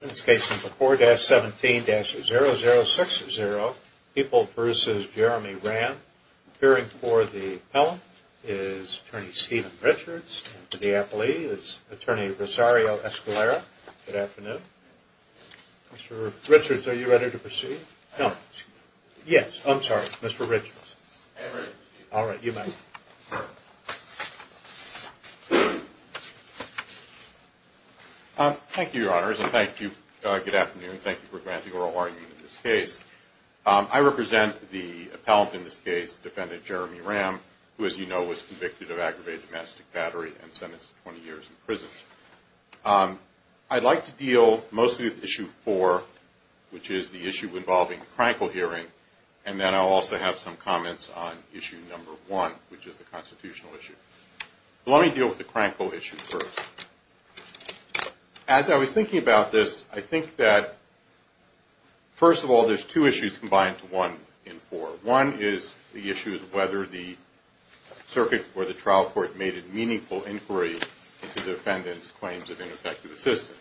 In this case, it's a 4-17-0060, Heaple v. Jeremy Ramm. Appearing for the appellant is Attorney Steven Richards. And for the appellee is Attorney Rosario Escalera. Good afternoon. Mr. Richards, are you ready to proceed? No, excuse me. Yes, I'm sorry, Mr. Richards. All right, you may. Thank you, Your Honors. And thank you, good afternoon. Thank you for granting oral argument in this case. I represent the appellant in this case, Defendant Jeremy Ramm, who, as you know, was convicted of aggravated domestic battery and sentenced to 20 years in prison. I'd like to deal mostly with Issue 4, which is the issue involving the Krankel hearing. And then I'll also have some comments on Issue Number 1. Which is the constitutional issue. Let me deal with the Krankel issue first. As I was thinking about this, I think that, first of all, there's two issues combined to one in four. One is the issue of whether the circuit or the trial court made a meaningful inquiry into the defendant's claims of ineffective assistance.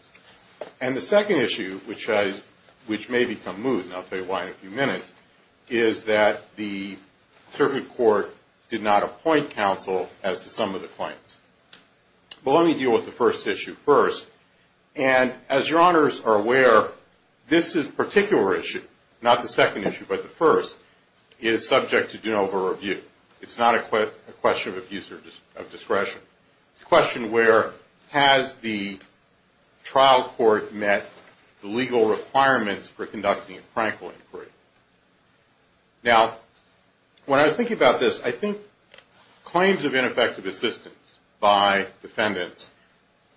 And the second issue, which may become moot, and I'll tell you why in a few minutes, is that the circuit court did not appoint counsel as to some of the claims. But let me deal with the first issue first. And as Your Honors are aware, this particular issue, not the second issue, but the first, is subject to Doanova review. It's not a question of abuse of discretion. It's a question where has the trial court met the legal requirements for conducting a Krankel inquiry? Now, when I was thinking about this, I think claims of ineffective assistance by defendants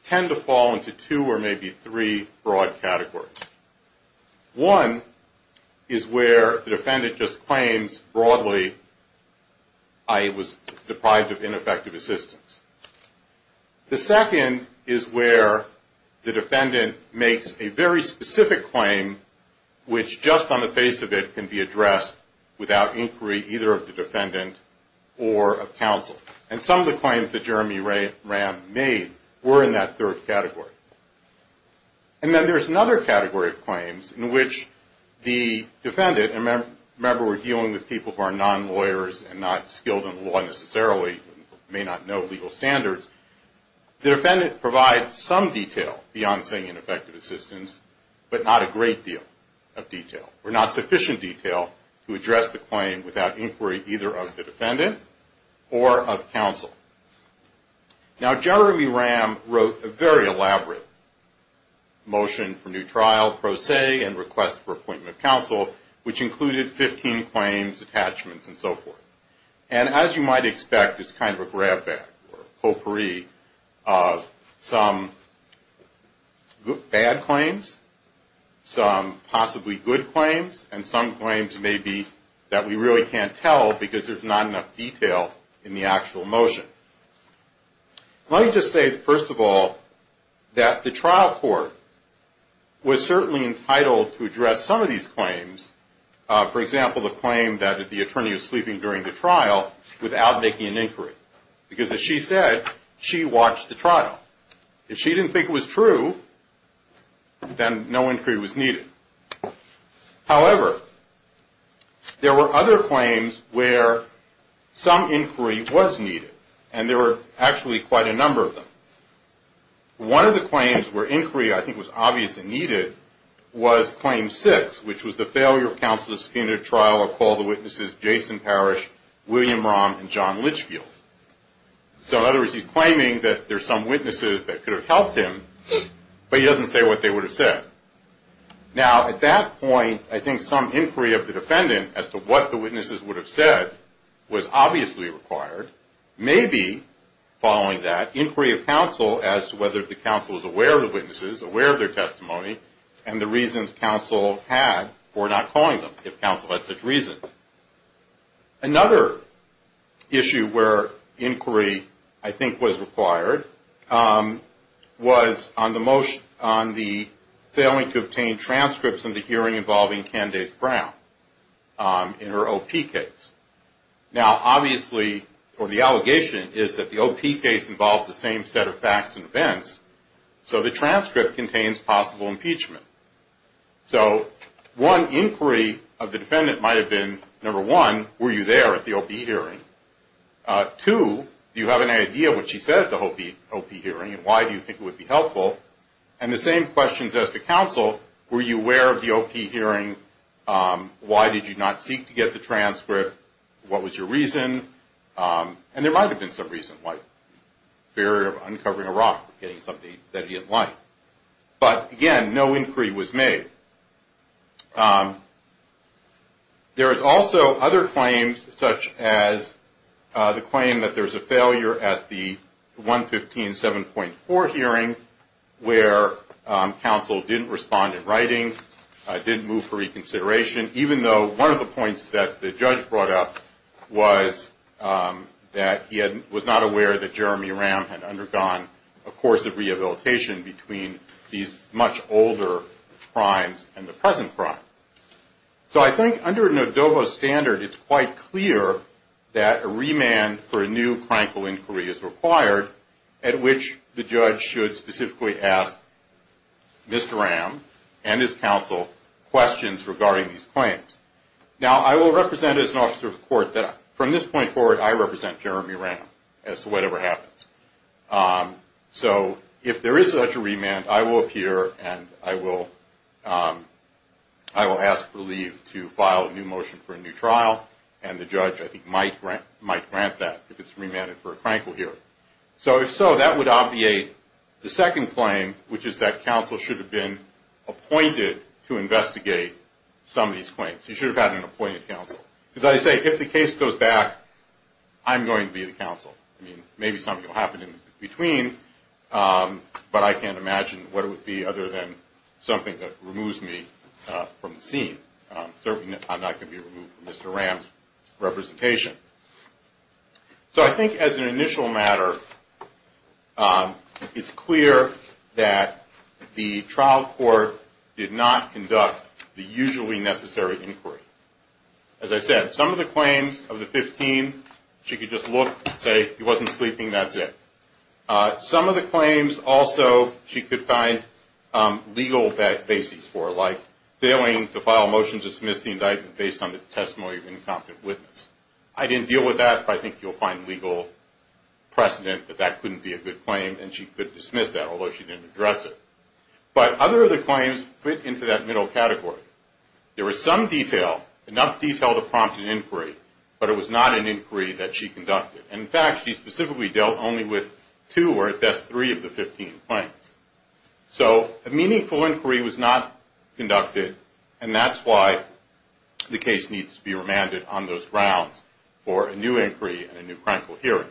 tend to fall into two or maybe three broad categories. One is where the defendant just claims broadly, I was deprived of ineffective assistance. The second is where the defendant makes a very specific claim which just on the face of it can be addressed without inquiry either of the defendant or of counsel. And some of the claims that Jeremy Ram made were in that third category. And then there's another category of claims in which the defendant, and remember we're dealing with people who are non-lawyers and not skilled in law necessarily, you may not know legal standards. The defendant provides some detail beyond saying ineffective assistance, but not a great deal of detail, or not sufficient detail to address the claim without inquiry either of the defendant or of counsel. Now, Jeremy Ram wrote a very elaborate motion for new trial pro se and request for appointment of counsel which included 15 claims, attachments, and so forth. And as you might expect, it's kind of a grab bag or potpourri of some bad claims, some possibly good claims, and some claims maybe that we really can't tell because there's not enough detail in the actual motion. Let me just say first of all that the trial court was certainly entitled to address some of these claims. For example, the claim that if the attorney was sleeping during the trial without making an inquiry because as she said, she watched the trial. If she didn't think it was true, then no inquiry was needed. However, there were other claims where some inquiry was needed and there were actually quite a number of them. One of the claims where inquiry, I think, was obviously needed was claim six which was the failure of counsel to scheme a trial or call the witnesses Jason Parrish, William Rahm, and John Litchfield. So in other words, he's claiming that there's some witnesses that could have helped him but he doesn't say what they would have said. Now at that point, I think some inquiry of the defendant as to what the witnesses would have said was obviously required. Maybe following that, inquiry of counsel as to whether the counsel was aware of the witnesses, aware of their testimony, and the reasons counsel had for not calling them. If counsel had such reasons. Another issue where inquiry, I think, was required was on the failing to obtain transcripts in the hearing involving Candace Brown in her OP case. Now obviously, or the allegation is that the OP case involves the same set of facts and events, so the transcript contains possible impeachment. So one inquiry of the defendant might have been, number one, were you there at the OP hearing? Two, do you have any idea what she said at the OP hearing and why do you think it would be helpful? And the same questions as to counsel, were you aware of the OP hearing? Why did you not seek to get the transcript? What was your reason? And there might have been some reason, like fear of uncovering a rock or getting something that he didn't like. But again, no inquiry was made. There is also other claims, such as the claim that there's a failure at the 115-7.4 hearing where counsel didn't respond in writing, didn't move for reconsideration, even though one of the points that the judge brought up was that he was not aware that Jeremy Ram had undergone a course of rehabilitation between these much older crimes and the present crime. So I think under an ADOBO standard, it's quite clear that a remand for a new criminal inquiry is required at which the judge should specifically ask Mr. Ram and his counsel questions regarding these claims. Now, I will represent as an officer of the court that from this point forward, I represent Jeremy Ram as to whatever happens. So if there is such a remand, I will appear and I will ask for leave to file a new motion for a new trial. And the judge, I think, might grant that if it's remanded for a crankle hearing. So if so, that would obviate the second claim, which is that counsel should have been appointed to investigate some of these claims. He should have had an appointed counsel. Because I say, if the case goes back, I'm going to be the counsel. I mean, maybe something will happen in between, but I can't imagine what it would be other than something that removes me from the scene. Certainly, I'm not going to be removed from Mr. Ram's representation. So I think as an initial matter, it's clear that the trial court did not conduct the usually necessary inquiry. As I said, some of the claims of the 15, she could just look and say, he wasn't sleeping, that's it. Some of the claims, also, she could find legal basis for, like failing to file a motion to dismiss the indictment based on the testimony of an incompetent witness. I didn't deal with that, but I think you'll find legal precedent that that couldn't be a good claim, and she could dismiss that, although she didn't address it. But other of the claims fit into that middle category. There was some detail, enough detail to prompt an inquiry, but it was not an inquiry that she conducted. And in fact, she specifically dealt only with two or at best, three of the 15 claims. So a meaningful inquiry was not conducted, and that's why the case needs to be remanded on those grounds for a new inquiry and a new criminal hearing.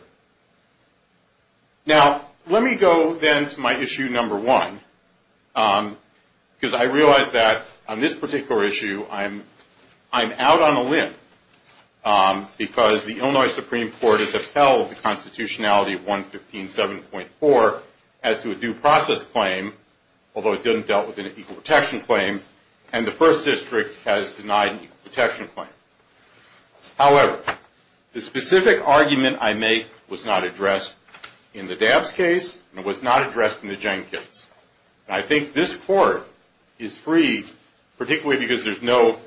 Now, let me go then to my issue number one, because I realize that on this particular issue, I'm out on a limb, because the Illinois Supreme Court has upheld the constitutionality of 115.7.4 as to a due process claim, although it didn't deal with an equal protection claim, and the first district has denied an equal protection claim. However, the specific argument I make was not addressed in the Dabbs case, and it was not addressed in the Jenkins. And I think this court is free, particularly because there's no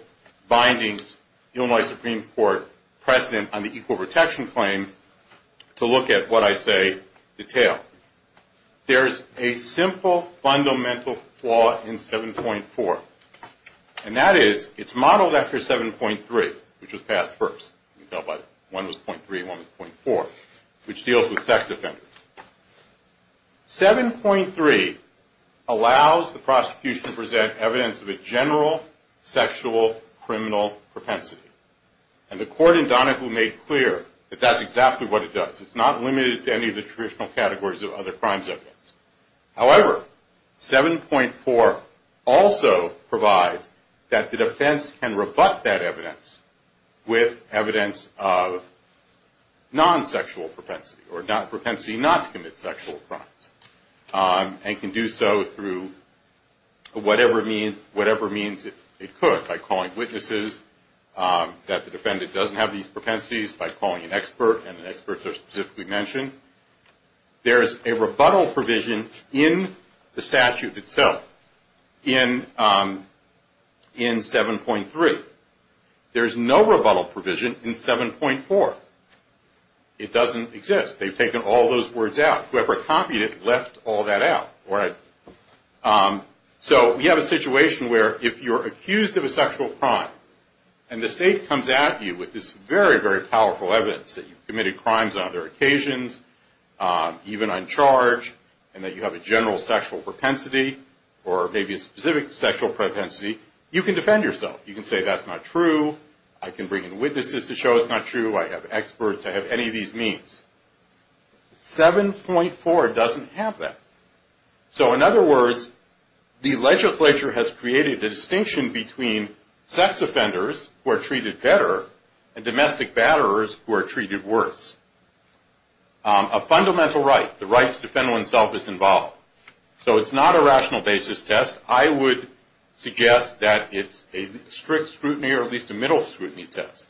bindings, Illinois Supreme Court precedent on the equal protection claim to look at what I say detail. There's a simple fundamental flaw in 7.4, and that is it's modeled after 7.3, which was passed first. You can tell by one was .3, one was .4, which deals with sex offenders. 7.3 allows the prosecution to present evidence of a general sexual criminal propensity, and the court in Donahue made clear that that's exactly what it does. It's not limited to any of the traditional categories of other crimes evidence. However, 7.4 also provides that the defense can rebut that evidence with evidence of non-sexual propensity, or propensity not to commit sexual crimes, and can do so through whatever means it could, by calling witnesses that the defendant doesn't have these propensities, by calling an expert, and an expert specifically mentioned. There's a rebuttal provision in the statute itself, in 7.3. There's no rebuttal provision in 7.4. It doesn't exist. They've taken all those words out. Whoever copied it left all that out. So we have a situation where if you're accused of a sexual crime, and the state comes at you with this very, very powerful evidence that you've committed crimes on other occasions, even on charge, and that you have a general sexual propensity, or maybe a specific sexual propensity, you can defend yourself. You can say that's not true. I can bring in witnesses to show it's not true. I have experts. I have any of these means. 7.4 doesn't have that. So in other words, the legislature has created a distinction between sex offenders who are treated better, and domestic batterers who are treated worse. A fundamental right, the right to defend oneself is involved. So it's not a rational basis test. I would suggest that it's a strict scrutiny, or at least a middle scrutiny test.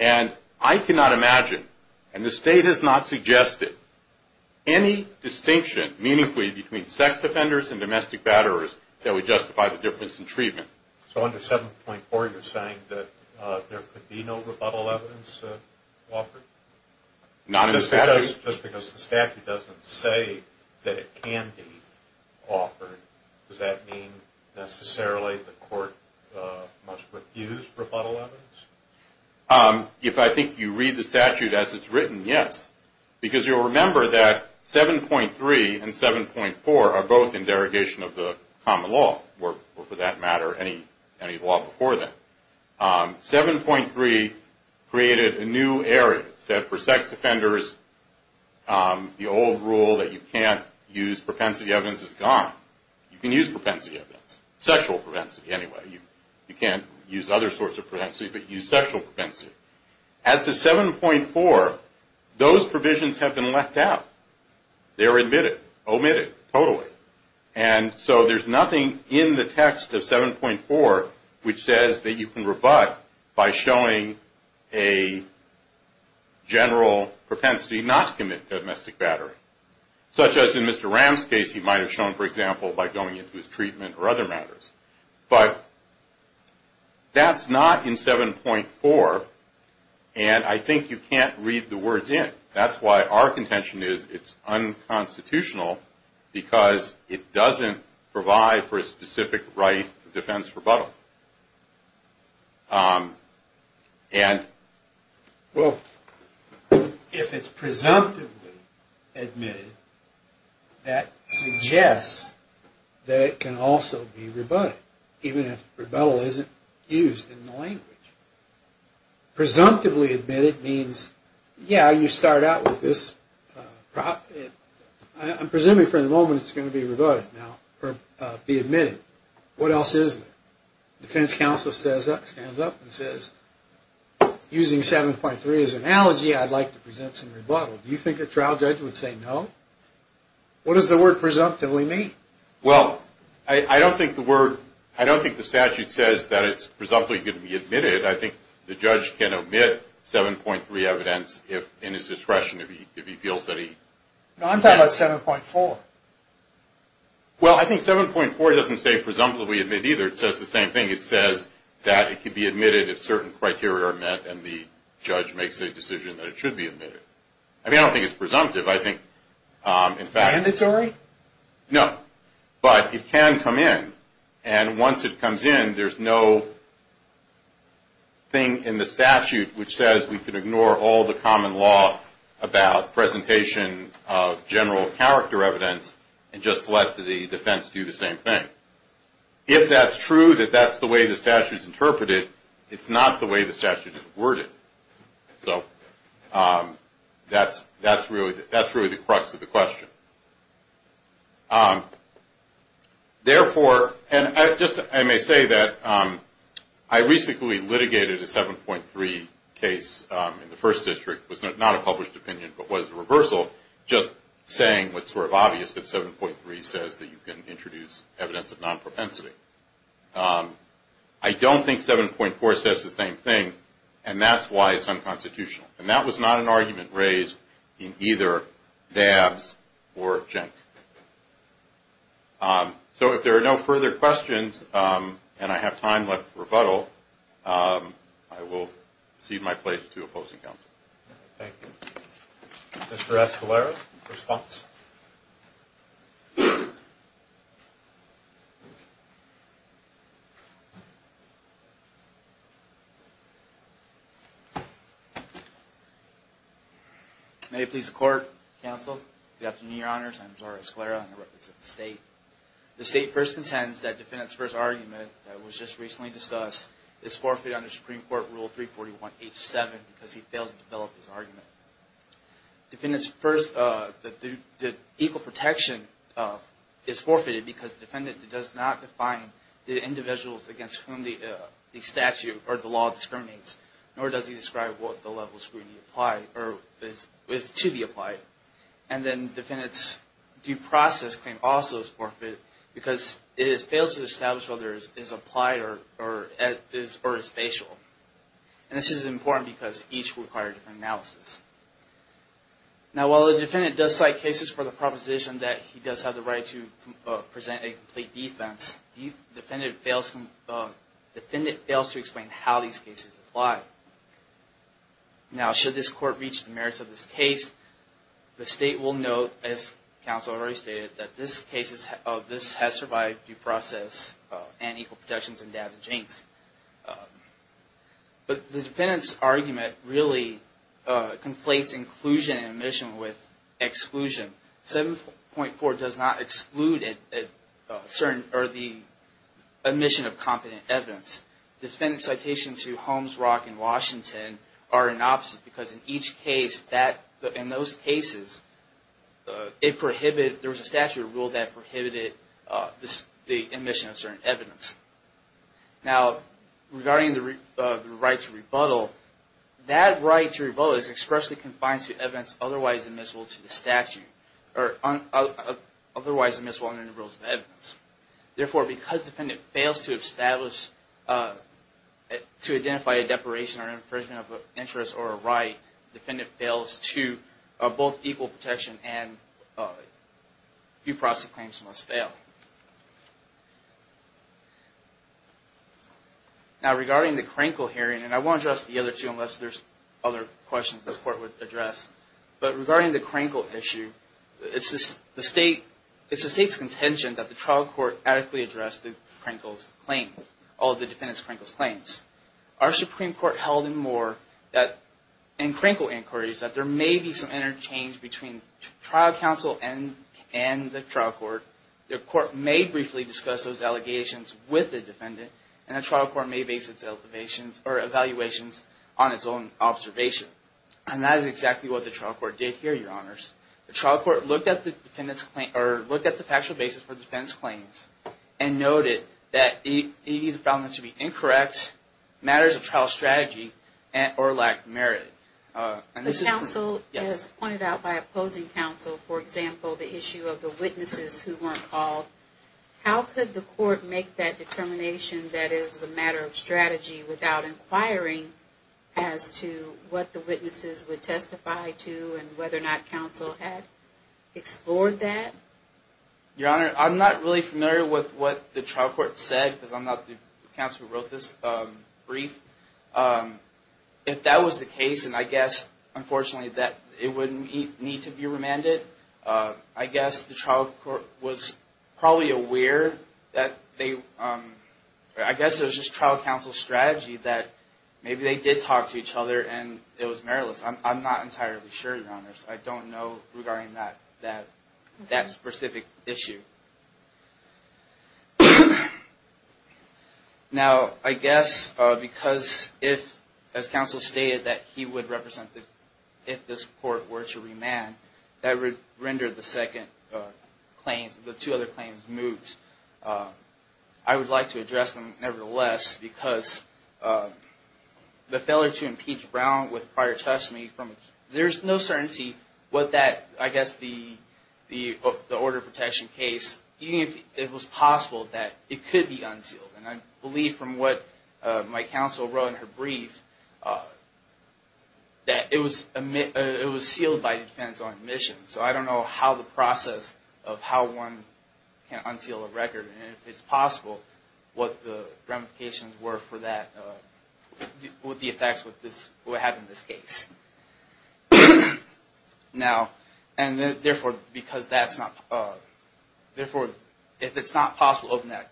And I cannot imagine, and the state has not suggested, any distinction, meaningfully, between sex offenders and domestic batterers that would justify the difference in treatment. So under 7.4 you're saying that there could be no rebuttal evidence offered? Not in the statute. Just because the statute doesn't say that it can be offered, does that mean necessarily the court must refuse rebuttal evidence? If I think you read the statute as it's written, yes. Because you'll remember that 7.3 and 7.4 are both in derogation of the common law, or for that matter, any law before that. 7.3 created a new area. It said for sex offenders, the old rule that you can't use propensity evidence is gone. You can use propensity evidence. Sexual propensity, anyway. You can't use other sorts of propensity, but use sexual propensity. As to 7.4, those provisions have been left out. They're omitted, totally. And so there's nothing in the text of 7.4 which says that you can rebut by showing a general propensity not to commit domestic battering. Such as in Mr. Ram's case, he might have shown, for example, by going into his treatment or other matters. But that's not in 7.4, and I think you can't read the words in. That's why our contention is it's unconstitutional because it doesn't provide for a specific right to defense rebuttal. If it's presumptively admitted, that suggests that it can also be rebutted, even if rebuttal isn't used in the language. Presumptively admitted means, yeah, you start out with this... I'm presuming for the moment it's going to be rebutted now, or be admitted. What else is there? Defense counsel stands up and says, using 7.3 as an analogy, I'd like to present some rebuttal. Do you think a trial judge would say no? What does the word presumptively mean? Well, I don't think the statute says that it's presumptively going to be admitted. I think the judge can omit 7.3 evidence in his discretion if he feels that he... No, I'm talking about 7.4. Well, I think 7.4 doesn't say presumptively admit either. It says the same thing. It says that it can be admitted if certain criteria are met and the judge makes a decision that it should be admitted. I mean, I don't think it's presumptive. I think, in fact... Mandatory? No, but it can come in. And once it comes in, there's no thing in the statute which says we can ignore all the common law about presentation of general character evidence and just let the defense do the same thing. If that's true, that that's the way the statute is interpreted, it's not the way the statute is worded. So, that's really the crux of the question. Therefore, and I may say that I recently litigated a 7.3 case in the first district. It was not a published opinion, but was a reversal, just saying what's sort of obvious that 7.3 says that you can introduce evidence of non-propensity. I don't think 7.4 says the same thing and that's why it's unconstitutional. And that was not an argument raised in either Dabbs or Cenk. So, if there are no further questions and I have time left for rebuttal, I will cede my place to opposing counsel. Thank you. Mr. Escalera, response? May it please the court, counsel. Good afternoon, your honors. I'm Zora Escalera and I represent the state. The state first contends that defendant's first argument that was just recently discussed is forfeited under Supreme Court Rule 341, H7 because he failed to develop his argument. Defendant's first, the equal protection is forfeited because the defendant does not define the individuals against whom the statute or the law discriminates nor does he describe what the level of scrutiny is to be applied. And then defendant's due process claim also is forfeited because it fails to establish whether it is applied or is spatial. And this is important because each requires a different analysis. Now, while the defendant does cite cases for the proposition that he does have the right to present a complete defense, defendant fails to explain how these cases apply. Now, should this court reach the merits of this case, the state will note, as counsel already stated, that this case has survived due process and equal protections and damage inks. But the defendant's argument really conflates inclusion and omission with exclusion. 7.4 does not exclude the omission of competent evidence. Defendant's citations to Holmes, Rock, and Washington are an opposite because in each case, in those cases, there was a statute of rule that prohibited the omission of certain evidence. Now, regarding the right to rebuttal, that right to rebuttal is expressly confined to evidence otherwise admissible to the statute or otherwise admissible under the Rules of Evidence. Therefore, because defendant fails to establish to identify a deporation or infringement of an interest or a right, defendant fails to both equal protection and due process claims must fail. Now, regarding the Crankle hearing, and I won't address the other two unless there's other questions the court would address, but regarding the Crankle issue, it's the state's contention that the trial court adequately addressed the Crankle's claims, all the defendant's Crankle's claims. Our Supreme Court held in more that in Crankle inquiries that there may be some interchange between trial counsel and the trial court. The court may briefly discuss those allegations with the defendant and the trial court may base its evaluations on its own observation. And that is exactly what the trial court did here, Your Honors. The trial court looked at the factual basis for the defendant's claims and noted that it either found them to be incorrect, matters of trial strategy, or lacked merit. The counsel, as pointed out by opposing counsel, for example, the issue of the witnesses who weren't called, how could the court make that determination that it was a matter of strategy without inquiring as to what the witnesses would testify to and whether or not counsel had explored that? Your Honor, I'm not really familiar with what the trial court said, because I'm not the counsel who wrote this brief. If that was the case, and I guess, unfortunately, that it wouldn't need to be remanded, I guess the trial court was probably aware that they, I guess it was just trial counsel's strategy that maybe they did talk to each other and it was meritless. I'm not entirely sure, Your Honors. I don't know regarding that specific issue. Now, I guess, because if, as counsel stated, that he would represent if this court were to remand, that would render the second claim, the two other claims, moot. I would like to address them, nevertheless, because the failure to impeach Brown with prior testimony, there's no certainty what that, I guess, the order of protection case, even if it was possible that it could be unsealed. And I believe from what my counsel wrote in her brief, that it was sealed by defense on admission. So I don't know how the process of how one can unseal a record, and if it's possible, what the ramifications were for that, what the effects would have in this case. Now, and therefore, because that's not, therefore, if it's not possible to open that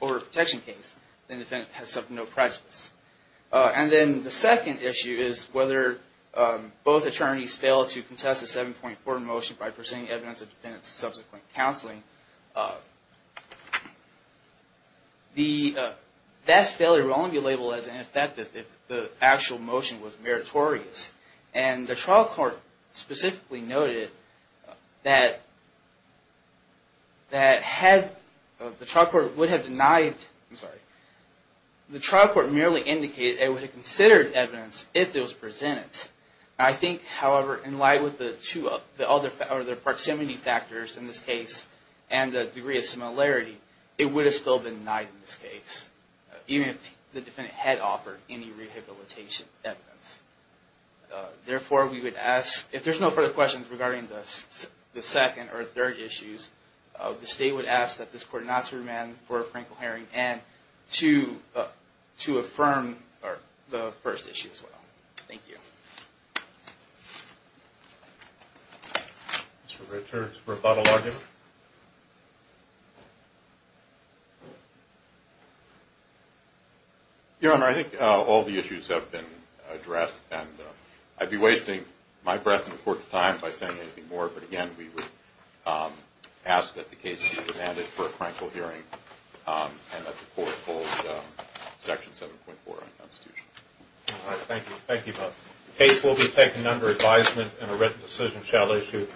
order of protection case, then the defendant has subpoenaed prejudice. And then the second issue is whether both attorneys fail to contest the 7.4 motion by presenting evidence of defendant's subsequent counseling. That failure will only be labeled as ineffective if the actual motion was meritorious. And the trial court specifically noted that the trial court would have denied, I'm sorry, the trial court merely indicated it would have considered evidence if it was presented. I think, however, in light with the proximity factors in this case, and the degree of similarity, it would have still been denied in this case, even if the defendant had offered any rehabilitation evidence. Therefore, we would ask, if there's no further questions regarding the second or third issues, the state would ask that this court not to demand for a frankly hearing and to affirm the first issue as well. Thank you. Mr. Richards for a bottle argument. Your Honor, I think all the issues have been addressed and I'd be wasting my breath and the court's time by saying anything more, but again, we would ask that the case be demanded for a frankly hearing and that the court hold section 7.4 of the Constitution. All right, thank you, thank you both. Case will be taken under advisement and a written decision shall issue.